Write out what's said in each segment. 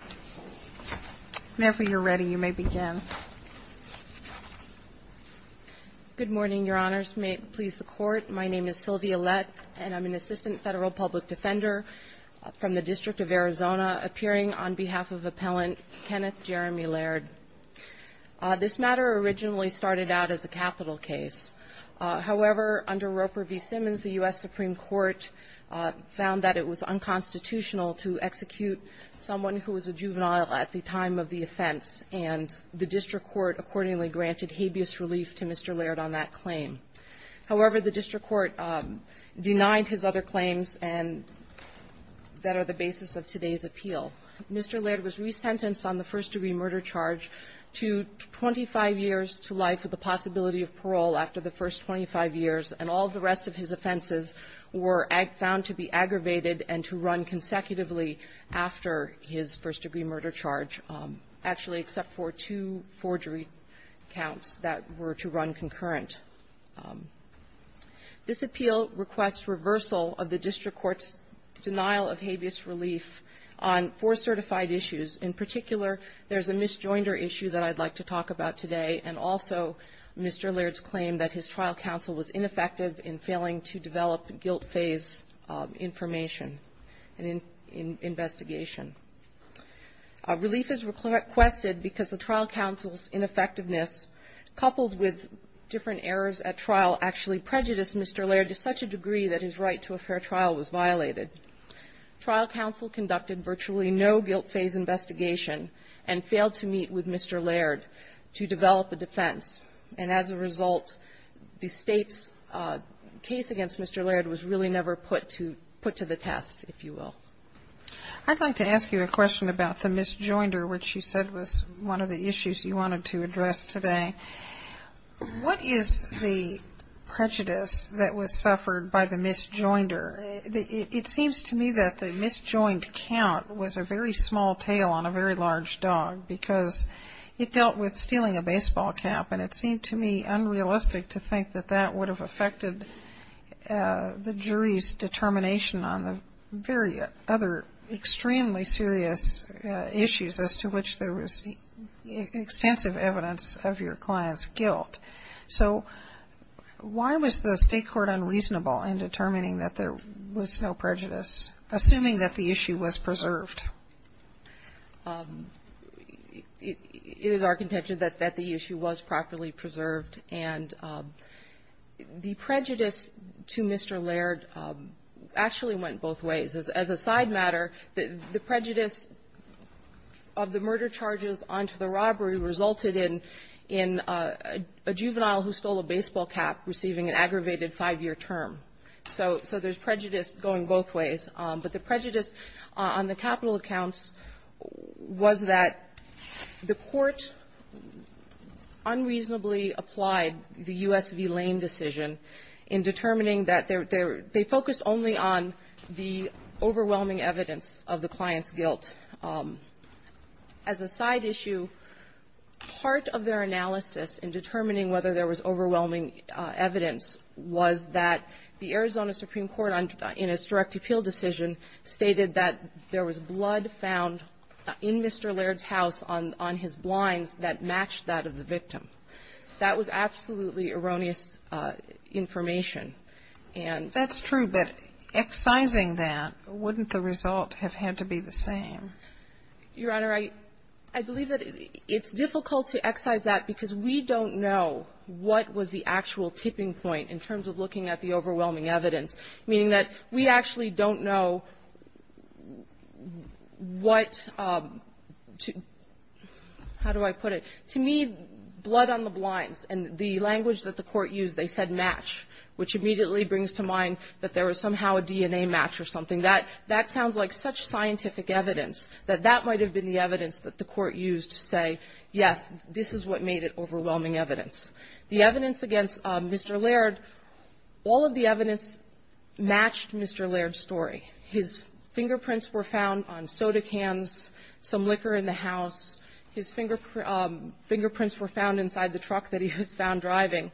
Sylvia Lett, Assistant Federal Public Defender, District of Arizona Appearing on behalf of Appellant Kenneth Jeremy Laird. This matter originally started out as a capital case. However, under Roper v. Simmons, the U.S. Supreme Court found that it was unconstitutional to execute someone who was a juvenile at the time of the offense, and the district court accordingly granted habeas relief to Mr. Laird on that claim. However, the district court denied his other claims and that are the basis of today's appeal. Mr. Laird was resentenced on the first-degree murder charge to 25 years to life with the possibility of parole after the first 25 years, and all of the rest of his offenses were found to be aggravated and to run consecutively after his first-degree murder charge, actually except for two forgery counts that were to run concurrent. This appeal requests reversal of the district court's denial of habeas relief on four certified issues. In particular, there's a misjoinder issue that I'd like to talk about today, and also Mr. Laird's claim that his trial counsel was ineffective in failing to develop guilt phase information in investigation. Relief is requested because the trial counsel's ineffectiveness, coupled with different errors at trial, actually prejudiced Mr. Laird to such a degree that his right to a fair trial was violated. Trial counsel conducted virtually no guilt phase investigation and failed to meet with Mr. Laird to develop a defense, and as a result, the State's case against Mr. Laird was really never put to the test, if you will. I'd like to ask you a question about the misjoinder, which you said was one of the issues you wanted to address today. What is the prejudice that was suffered by the misjoinder? It seems to me that the misjoined count was a very small tail on a very large dog because it dealt with stealing a baseball cap, and it seemed to me unrealistic to other extremely serious issues as to which there was extensive evidence of your client's guilt. So why was the State court unreasonable in determining that there was no prejudice, assuming that the issue was preserved? It is our contention that the issue was properly preserved, and the prejudice to Mr. Laird actually went both ways. As a side matter, the prejudice of the murder charges onto the robbery resulted in a juvenile who stole a baseball cap receiving an aggravated five-year term. So there's prejudice going both ways. But the prejudice on the capital accounts was that the court unreasonably applied the U.S. v. Lane decision in determining that they focused only on the overwhelming evidence of the client's guilt. As a side issue, part of their analysis in determining whether there was overwhelming evidence was that the Arizona Supreme Court, in its direct appeal decision, stated that there was blood found in Mr. Laird's house on his blinds that matched that of the victim. That was absolutely erroneous information. And that's true, but excising that, wouldn't the result have had to be the same? Your Honor, I believe that it's difficult to excise that because we don't know what was the actual tipping point in terms of looking at the overwhelming evidence, meaning that we actually don't know what to do. How do I put it? To me, blood on the blinds and the language that the court used, they said match, which immediately brings to mind that there was somehow a DNA match or something. That sounds like such scientific evidence that that might have been the evidence that the court used to say, yes, this is what made it overwhelming evidence. The evidence against Mr. Laird, all of the evidence matched Mr. Laird's story. His fingerprints were found on soda cans, some liquor in the house. His fingerprints were found inside the truck that he was found driving.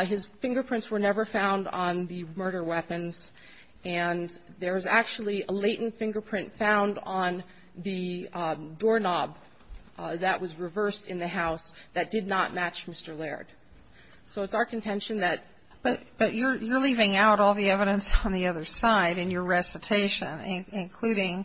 His fingerprints were never found on the murder weapons. And there was actually a latent fingerprint found on the doorknob that was reversed in the house that did not match Mr. Laird. So it's our contention that – But you're leaving out all the evidence on the other side in your recitation, including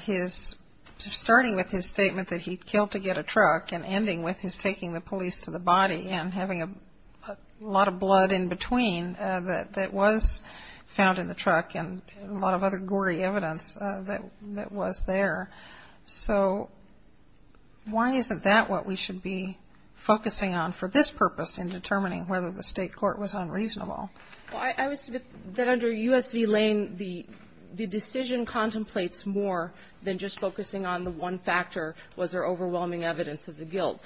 his – starting with his statement that he killed to get a truck and ending with his taking the police to the body and having a lot of blood in between that was found in the truck and a lot of other gory evidence that was there. So why isn't that what we should be focusing on for this purpose in determining whether the State court was unreasonable? Well, I would submit that under U.S. v. Lane, the decision contemplates more than just focusing on the one factor, was there overwhelming evidence of the guilt.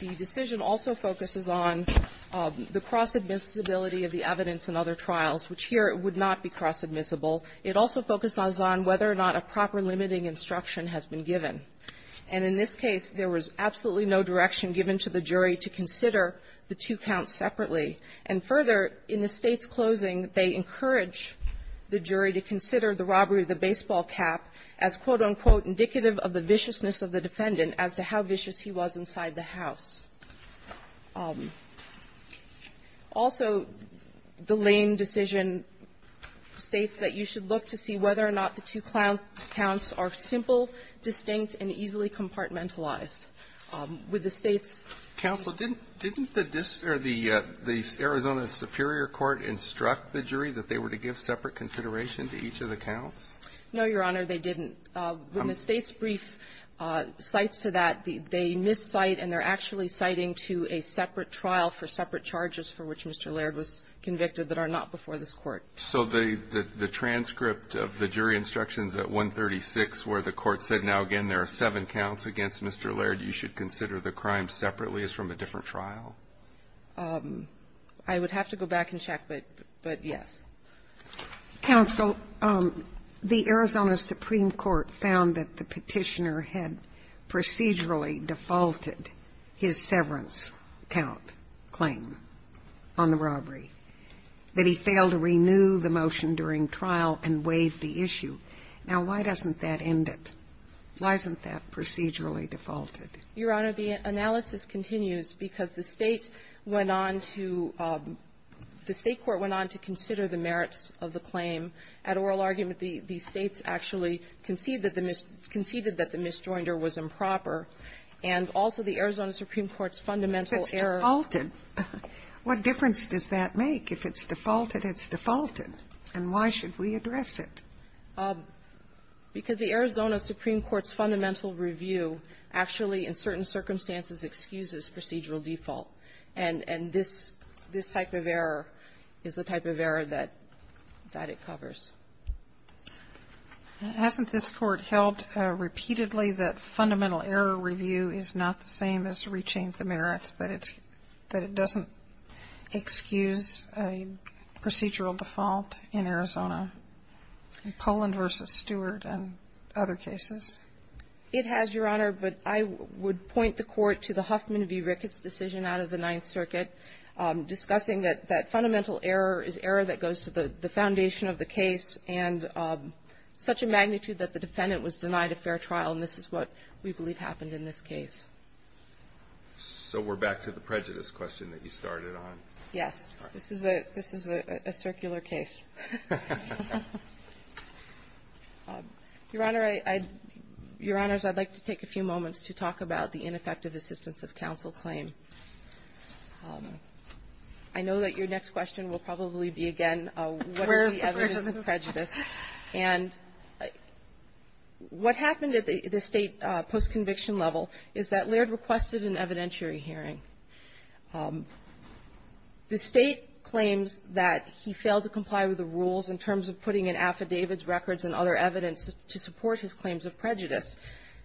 The decision also focuses on the cross-admissibility of the evidence in other trials, which here it would not be cross-admissible. It also focuses on whether or not a proper limiting instruction has been given. And in this case, there was absolutely no direction given to the jury to consider the two counts separately. And further, in the State's closing, they encouraged the jury to consider the robbery of the baseball cap as, quote-unquote, indicative of the viciousness of the defendant as to how vicious he was inside the house. Also, the Lane decision states that you should look to see whether or not the two counts are simple, distinct, and easily compartmentalized. With the State's counsel didn't the Arizona superior court instruct the jury that they were to give separate consideration to each of the counts? No, Your Honor, they didn't. When the State's brief cites to that, they miss-cite and they're actually citing to a separate trial for separate charges for which Mr. Laird was convicted that are not before this Court. So the transcript of the jury instructions at 136 where the Court said, now again, there are seven counts against Mr. Laird, you should consider the crime separately as from a different trial? I would have to go back and check, but yes. Counsel, the Arizona supreme court found that the Petitioner had procedurally defaulted his severance count claim on the robbery, that he failed to renew the motion during trial and waived the issue. Now, why doesn't that end it? Why isn't that procedurally defaulted? Your Honor, the analysis continues because the State went on to the State court went on to consider the merits of the claim. At oral argument, the States actually conceded that the mis-conceded that the mis-joinder was improper, and also the Arizona supreme court's fundamental error. What difference does that make? If it's defaulted, it's defaulted. And why should we address it? Because the Arizona supreme court's fundamental review actually, in certain circumstances, excuses procedural default. And this type of error is the type of error that it covers. Hasn't this Court held repeatedly that fundamental error review is not the same as reaching the merits, that it doesn't excuse a procedural default in Arizona, in Poland v. Stewart and other cases? It has, Your Honor, but I would point the Court to the Huffman v. Ricketts decision out of the Ninth Circuit, discussing that that fundamental error is error that goes to the foundation of the case, and such a magnitude that the defendant was denied a fair trial, and this is what we believe happened in this case. So we're back to the prejudice question that you started on. Yes. This is a circular case. Your Honor, I'd like to take a few moments to talk about the ineffective assistance of counsel claim. I know that your next question will probably be again, what is the evidence of prejudice? And what happened at the State post-conviction level is that Laird requested an evidentiary hearing. The State claims that he failed to comply with the rules in terms of putting in affidavits, records, and other evidence to support his claims of prejudice.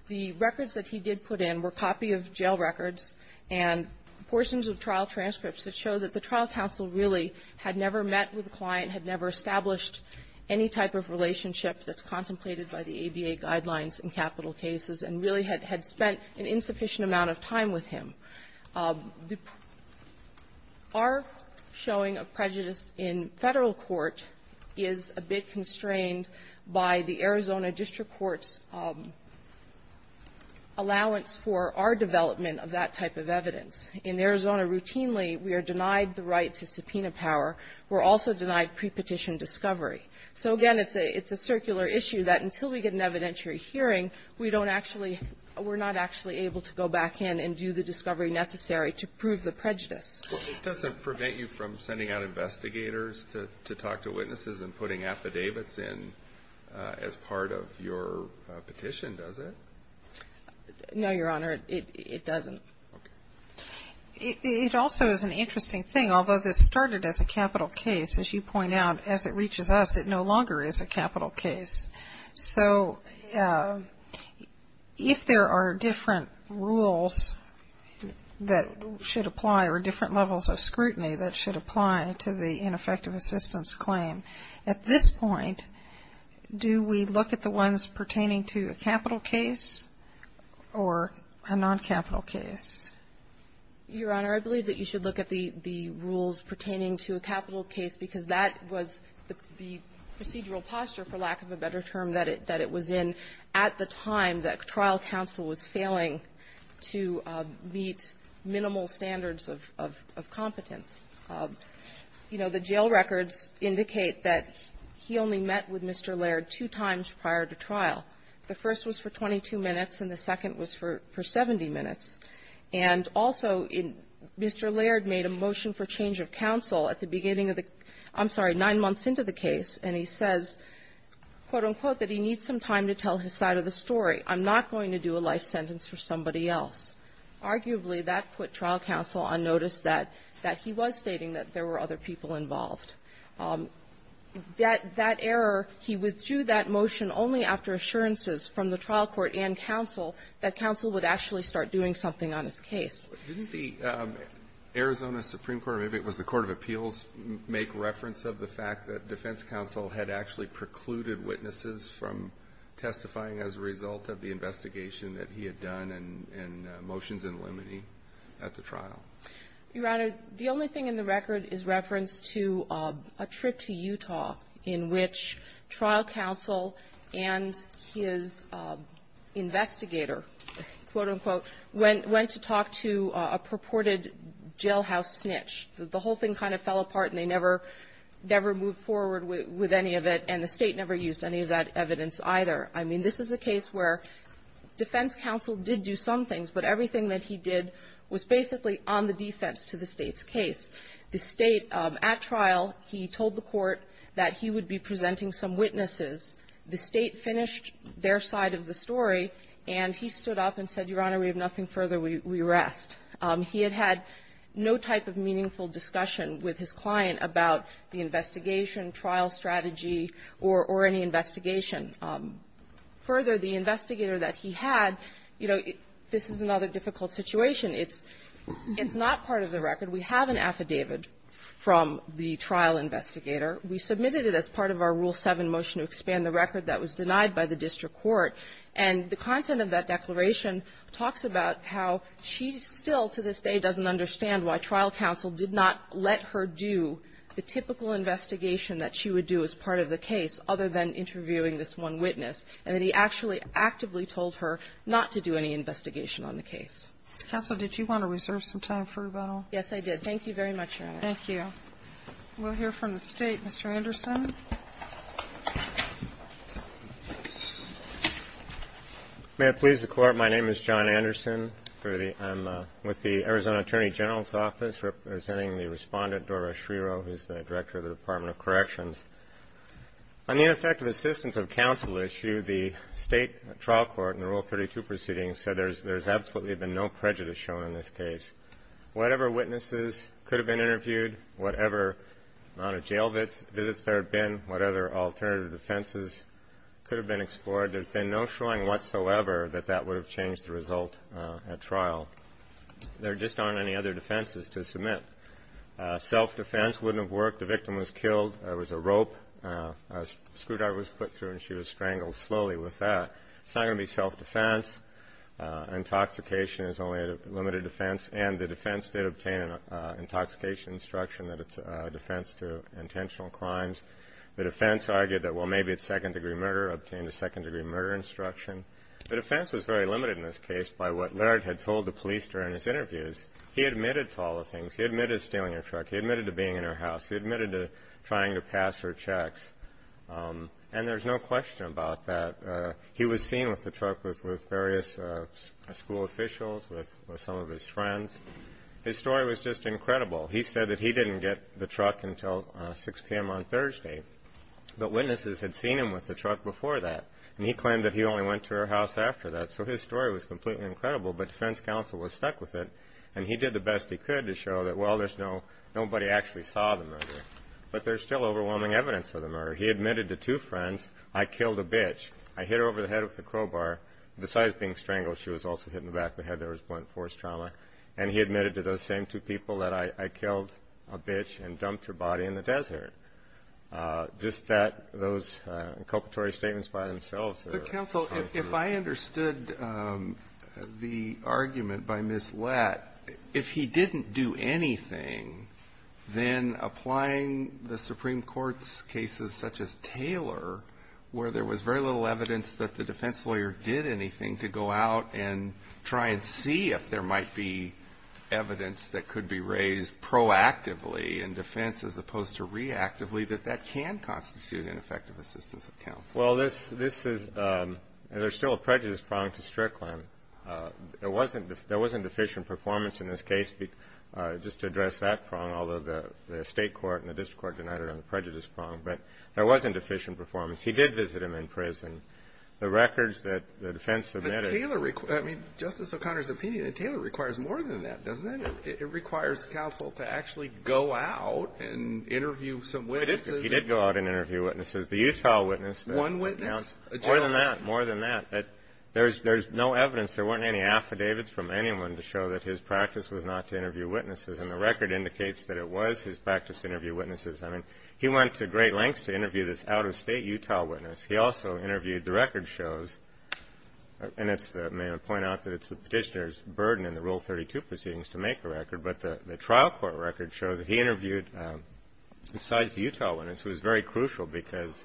The records that he did put in were a copy of jail records and portions of trial transcripts that show that the trial counsel really had never met with the client, had never established any type of relationship that's contemplated by the ABA Guidelines in capital cases, and really had spent an insufficient amount of time with him. Our showing of prejudice in Federal court is a bit constrained by the Arizona district court's allowance for our development of that type of evidence. In Arizona, routinely, we are denied the right to subpoena power. We're also denied pre-petition discovery. So again, it's a circular issue that until we get an evidentiary hearing, we don't actually we're not actually able to go back in and do the discovery necessary to prove the prejudice. Well, it doesn't prevent you from sending out investigators to talk to witnesses and putting affidavits in as part of your petition, does it? No, Your Honor, it doesn't. It also is an interesting thing, although this started as a capital case, as you point out, as it reaches us, it no longer is a capital case. So if there are different rules that should apply or different levels of scrutiny that should apply to the ineffective assistance claim, at this point, do we look at the ones pertaining to a capital case or a non-capital case? Your Honor, I believe that you should look at the rules pertaining to a capital case, because that was the procedural posture, for lack of a better term, that it was in at the time that trial counsel was failing to meet minimal standards of competence. You know, the jail records indicate that he only met with Mr. Laird two times prior to trial. The first was for 22 minutes, and the second was for 70 minutes. And also, Mr. Laird made a motion for change of counsel at the beginning of the --" I'm sorry, nine months into the case, and he says, quote, unquote, that he needs some time to tell his side of the story. I'm not going to do a life sentence for somebody else. Arguably, that put trial counsel on notice that he was stating that there were other people involved. That error, he withdrew that motion only after assurances from the trial court and counsel that counsel would actually start doing something on his case. Didn't the Arizona Supreme Court, or maybe it was the court of appeals, make reference of the fact that defense counsel had actually precluded witnesses from testifying as a result of the investigation that he had done and motions in limine at the trial? Your Honor, the only thing in the record is reference to a trip to Utah in which trial counsel and his investigator, quote, unquote, went to talk to a purported jailhouse snitch. The whole thing kind of fell apart, and they never moved forward with any of it, and the State never used any of that evidence either. I mean, this is a case where defense counsel did do some things, but everything that he did was basically on the defense to the State's case. The State, at trial, he told the court that he would be presenting some witnesses. The State finished their side of the story, and he stood up and said, Your Honor, we have nothing further. We rest. He had had no type of meaningful discussion with his client about the investigation, trial strategy, or any investigation. Further, the investigator that he had, you know, this is another difficult situation. It's not part of the record. We have an affidavit from the trial investigator. We submitted it as part of our Rule 7 motion to expand the record that was denied by the district court, and the content of that declaration talks about how she still, to this day, doesn't understand why trial counsel did not let her do the typical investigation that she would do as part of the case, other than interviewing this one witness, and that he actually actively told her not to do any investigation on the case. Kagan. Counsel, did you want to reserve some time for rebuttal? Yes, I did. Thank you very much, Your Honor. Thank you. We'll hear from the State. Mr. Anderson. May it please the Court, my name is John Anderson. I'm with the Arizona Attorney General's Office representing the Respondent Dora Schreiro, who is the Director of the Department of Corrections. On the ineffective assistance of counsel issue, the State trial court in the Rule 32 proceeding said there's absolutely been no prejudice shown in this case. Whatever witnesses could have been interviewed, whatever amount of jail visits there have been, whatever alternative defenses could have been explored, there's been no showing whatsoever that that would have changed the result at trial. There just aren't any other defenses to submit. Self-defense wouldn't have worked. The victim was killed. There was a rope. A screwdriver was put through and she was strangled slowly with that. It's not going to be self-defense. Intoxication is only a limited defense. And the defense did obtain an intoxication instruction that it's a defense to intentional crimes. The defense argued that, well, maybe it's second-degree murder, obtained a second-degree murder instruction. The defense was very limited in this case by what Laird had told the police during his interviews. He admitted to all the things. He admitted to stealing her truck. He admitted to being in her house. He admitted to trying to pass her checks. And there's no question about that. He was seen with the truck with various school officials, with some of his friends. His story was just incredible. He said that he didn't get the truck until 6 p.m. on Thursday, but witnesses had seen him with the truck before that, and he claimed that he only went to her house after that. So his story was completely incredible, but defense counsel was stuck with it, and he did the best he could to show that, well, there's no – nobody actually saw the murder. But there's still overwhelming evidence of the murder. He admitted to two friends, I killed a bitch. I hit her over the head with a crowbar. Besides being strangled, she was also hit in the back of the head. There was blunt force trauma. And he admitted to those same two people that I killed a bitch and dumped her body in the desert. Just that – those inculcatory statements by themselves are – But, counsel, if I understood the argument by Ms. Lett, if he didn't do anything, then applying the Supreme Court's cases such as Taylor, where there was very little evidence that the defense lawyer did anything, to go out and try and see if there might be evidence that could be raised proactively in defense as opposed to reactively, that that can constitute an effective assistance of counsel. Well, this is – there's still a prejudice prong to Strickland. There wasn't deficient performance in this case. Just to address that prong, although the state court and the district court denied it on the prejudice prong, but there wasn't deficient performance. He did visit him in prison. The records that the defense submitted – But Taylor – I mean, Justice O'Connor's opinion, Taylor requires more than that, doesn't it? It requires counsel to actually go out and interview some witnesses. He did go out and interview witnesses. The Utah witness that – One witness? A gentleman? More than that. More than that. There's no evidence. There weren't any affidavits from anyone to show that his practice was not to interview witnesses. And the record indicates that it was his practice to interview witnesses. I mean, he went to great lengths to interview this out-of-state Utah witness. He also interviewed the record shows, and it's – may I point out that it's the Petitioner's burden in the Rule 32 proceedings to make a record, but the trial court record shows that he interviewed – besides the Utah witness, it was very crucial, because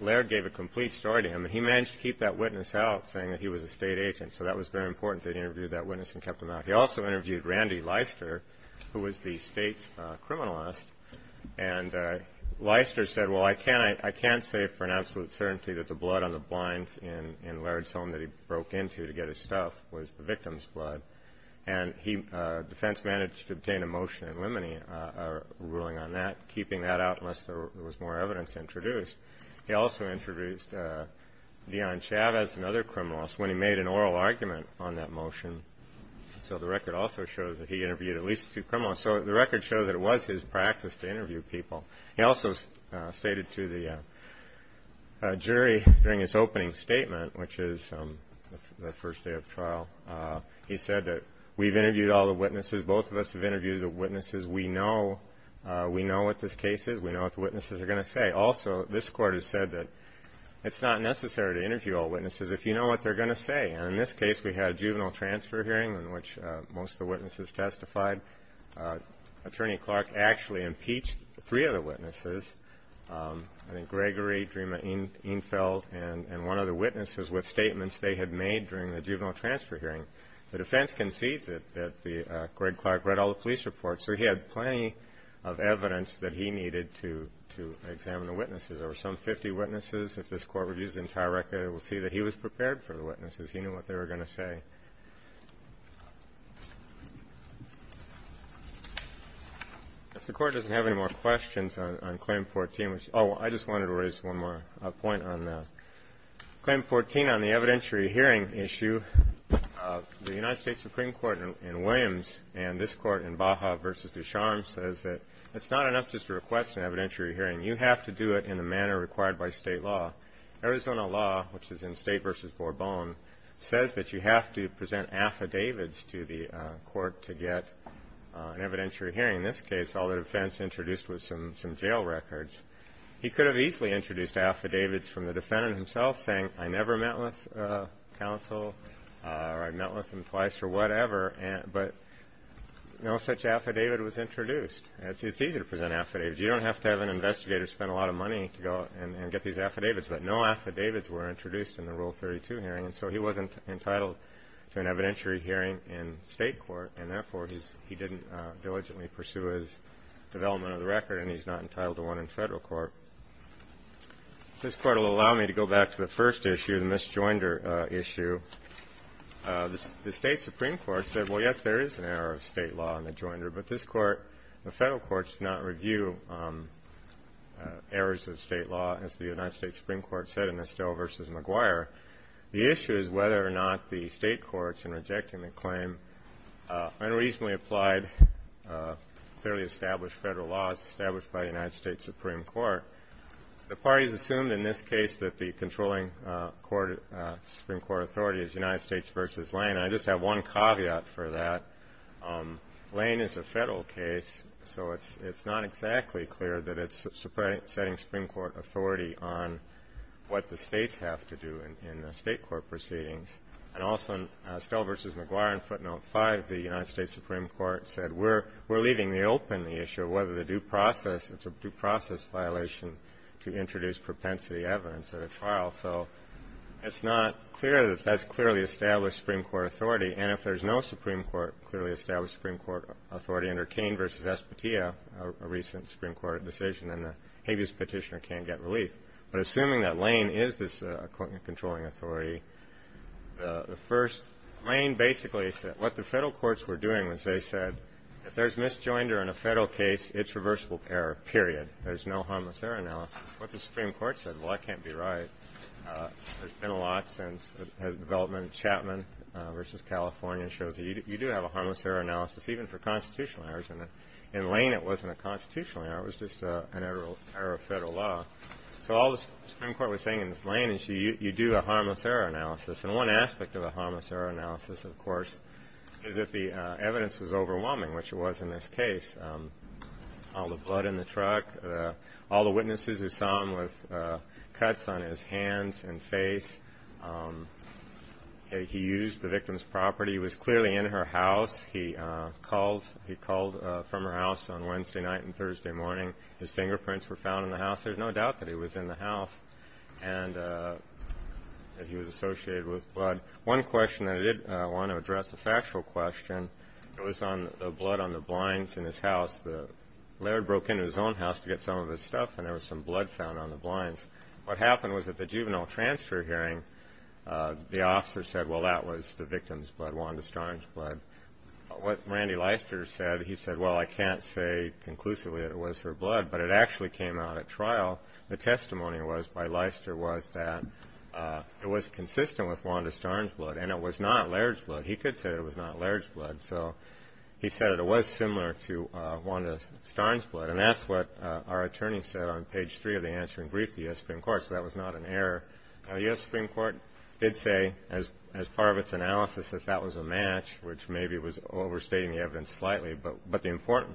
Laird gave a complete story to him, and he managed to keep that witness out, saying that he was a state agent. So that was very important that he interviewed that witness and kept him out. He also interviewed Randy Leister, who was the state's criminalist. And Leister said, well, I can't – I can't say for an absolute certainty that the blood on the blinds in Laird's home that he broke into to get his stuff was the victim's blood. And he – defense managed to obtain a motion eliminating – ruling on that, keeping that out unless there was more evidence introduced. He also introduced Dion Chavez, another criminalist, when he made an oral argument on that motion. So the record also shows that he interviewed at least two criminals. So the record shows that it was his practice to interview people. He also stated to the jury during his opening statement, which is the first day of trial, he said that we've interviewed all the witnesses, both of us have interviewed the witnesses, we know – we know what this case is, we know what the witnesses are going to say. Also, this Court has said that it's not necessary to interview all witnesses if you know what they're going to say. And in this case, we had a juvenile transfer hearing in which most of the witnesses testified. Attorney Clark actually impeached three of the witnesses – I think Gregory, Drima Einfeld, and one of the witnesses with statements they had made during the juvenile transfer hearing. The defense concedes that the – Greg Clark read all the police reports, so he had plenty of evidence that he needed to – to examine the witnesses. There were some 50 witnesses. If this Court reviews the entire record, we'll see that he was prepared for the witnesses. He knew what they were going to say. If the Court doesn't have any more questions on – on Claim 14, which – oh, I just wanted to raise one more point on that. Claim 14 on the evidentiary hearing issue, the United States Supreme Court in Williams and this Court in Baja v. Ducharme says that it's not enough just to request an evidentiary hearing. You have to do it in the manner required by state law. Arizona law, which is in State v. Bourbon, says that you have to present affidavits to the Court to get an evidentiary hearing. In this case, all the defense introduced was some – some jail records. He could have easily introduced affidavits from the defendant himself, saying, I never met with counsel, or I met with him twice, or whatever, but no such affidavit was introduced. It's easy to present affidavits. You don't have to have an investigator spend a lot of money to go and get these affidavits, but no affidavits were introduced in the Rule 32 hearing, and so he wasn't entitled to an evidentiary hearing in State court, and therefore, he didn't diligently pursue his development of the record, and he's not entitled to one in Federal court. This Court will allow me to go back to the first issue, the Miss Joinder issue. The State Supreme Court said, well, yes, there is an error of State law in the Joinder, but this Court – the Federal courts do not review errors of State law, as the United States Supreme Court said in Estelle v. McGuire. The issue is whether or not the State courts, in rejecting the claim, unreasonably applied, clearly established Federal laws established by the United States Supreme Court. The parties assumed, in this case, that the controlling Supreme Court authority is United States v. Lane. I just have one caveat for that. Lane is a Federal case, so it's not exactly clear that it's setting Supreme Court authority on what the States have to do in State court proceedings, and also in Estelle v. McGuire in footnote 5, the United States Supreme Court said, we're leaving the open the issue of whether the due process – it's a due process violation to introduce propensity evidence at a trial. So it's not clear that that's clearly established Supreme Court authority, and if there's no Supreme Court – clearly established Supreme Court authority under Cain v. Espatia, a recent Supreme Court decision, then the habeas petitioner can't get relief. But assuming that Lane is this controlling authority, the first – Lane basically said – what the Federal courts were doing was they said, if there's misjoinder in a Federal case, it's reversible error, period. There's no harmless error analysis. What the Supreme Court said, well, that can't be right. There's been a lot since the development of Chapman v. California shows that you do have a harmless error analysis, even for constitutional errors, and in Lane it wasn't a constitutional error. It was just an error of Federal law. So all the Supreme Court was saying in Lane is you do a harmless error analysis, and one aspect of a harmless error analysis, of course, is that the evidence is overwhelming, which it was in this case. All the blood in the truck, all the witnesses who saw him with cuts on his hands and face, he used the victim's property, he was clearly in her house, he called from her house on Wednesday night and Thursday morning, his fingerprints were found in the house. There's no doubt that he was in the house and that he was associated with blood. One question I did want to address, a factual question, it was on the blood on the blinds in his house. Laird broke into his own house to get some of his stuff and there was some blood found on the blinds. What happened was at the juvenile transfer hearing, the officer said, well, that was the victim's blood, Wanda Starnes' blood. What Randy Leister said, he said, well, I can't say conclusively that it was her blood, but it actually came out at trial, the testimony was by Leister was that it was consistent with Wanda Starnes' blood and it was not Laird's blood. He could say it was not Laird's blood, so he said it was similar to Wanda Starnes' blood and that's what our attorney said on page three of the answering brief to the U.S. Supreme Court, so that was not an error. The U.S. Supreme Court did say, as part of its analysis, that that was a match, which maybe was overstating the evidence slightly, but the important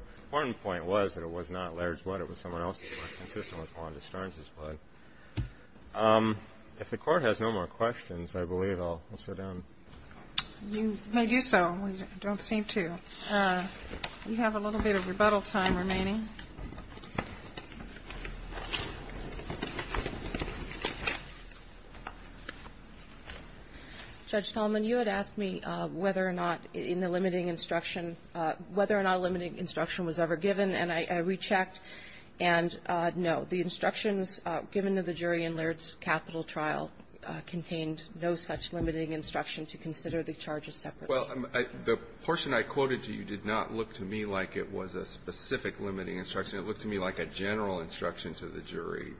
point was that it was not Laird's blood, it was someone else's blood, consistent with Wanda Starnes' blood. If the Court has no more questions, I believe I'll sit down. You may do so. We don't seem to. We have a little bit of rebuttal time remaining. Judge Talman, you had asked me whether or not in the limiting instruction, whether or not a limiting instruction was ever given, and I rechecked, and, no, the instructions given to the jury in Laird's capital trial contained no such limiting instruction to consider the charges separately. Well, the portion I quoted you did not look to me like it was a specific limiting instruction. It looked to me like a general instruction to the jury.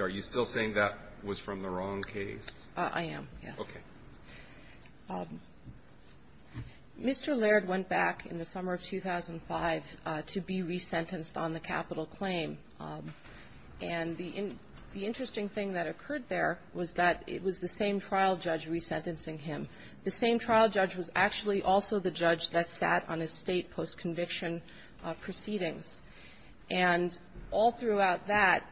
Are you still saying that was from the wrong case? I am, yes. Okay. Mr. Laird went back in the summer of 2005 to be resentenced on the capital claim. And the interesting thing that occurred there was that it was the same trial judge resentencing him. The same trial judge was actually also the judge that sat on his State post-conviction proceedings. And all throughout that,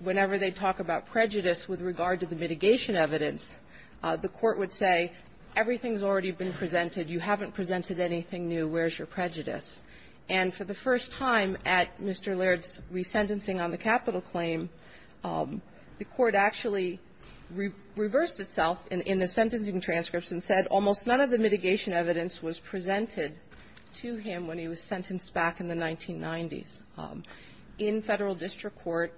whenever they talk about prejudice with regard to the mitigation evidence, the Court would say, everything's already been presented. You haven't presented anything new. Where's your prejudice? And for the first time at Mr. Laird's resentencing on the capital claim, the Court actually reversed itself in the sentencing transcripts and said almost none of the mitigation evidence was presented to him when he was sentenced back in the 1990s. In Federal district court,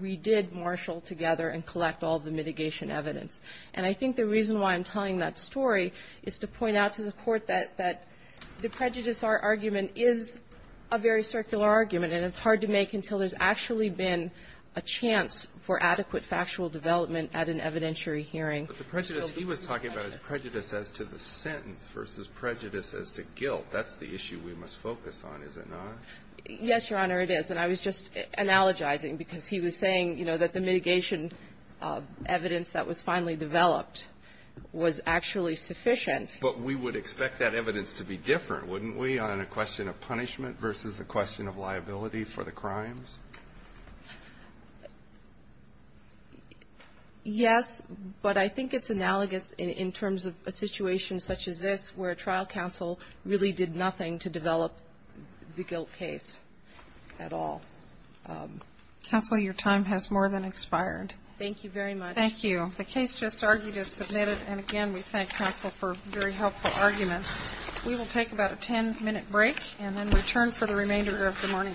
we did marshal together and collect all of the mitigation evidence. And I think the reason why I'm telling that story is to point out to the Court that the prejudice argument is a very circular argument, and it's hard to make until there's actually been a chance for adequate factual development at an evidentiary hearing. But the prejudice he was talking about is prejudice as to the sentence versus prejudice as to guilt. That's the issue we must focus on, is it not? Yes, Your Honor, it is. And I was just analogizing because he was saying, you know, that the mitigation evidence that was finally developed was actually sufficient. But we would expect that evidence to be different, wouldn't we, on a question of punishment versus a question of liability for the crimes? Yes, but I think it's analogous in terms of a situation such as this where a trial counsel really did nothing to develop the guilt case at all. Counsel, your time has more than expired. Thank you very much. Thank you. The case just argued is submitted. And again, we thank counsel for very helpful arguments. We will take about a 10-minute break and then return for the remainder of the morning calendar.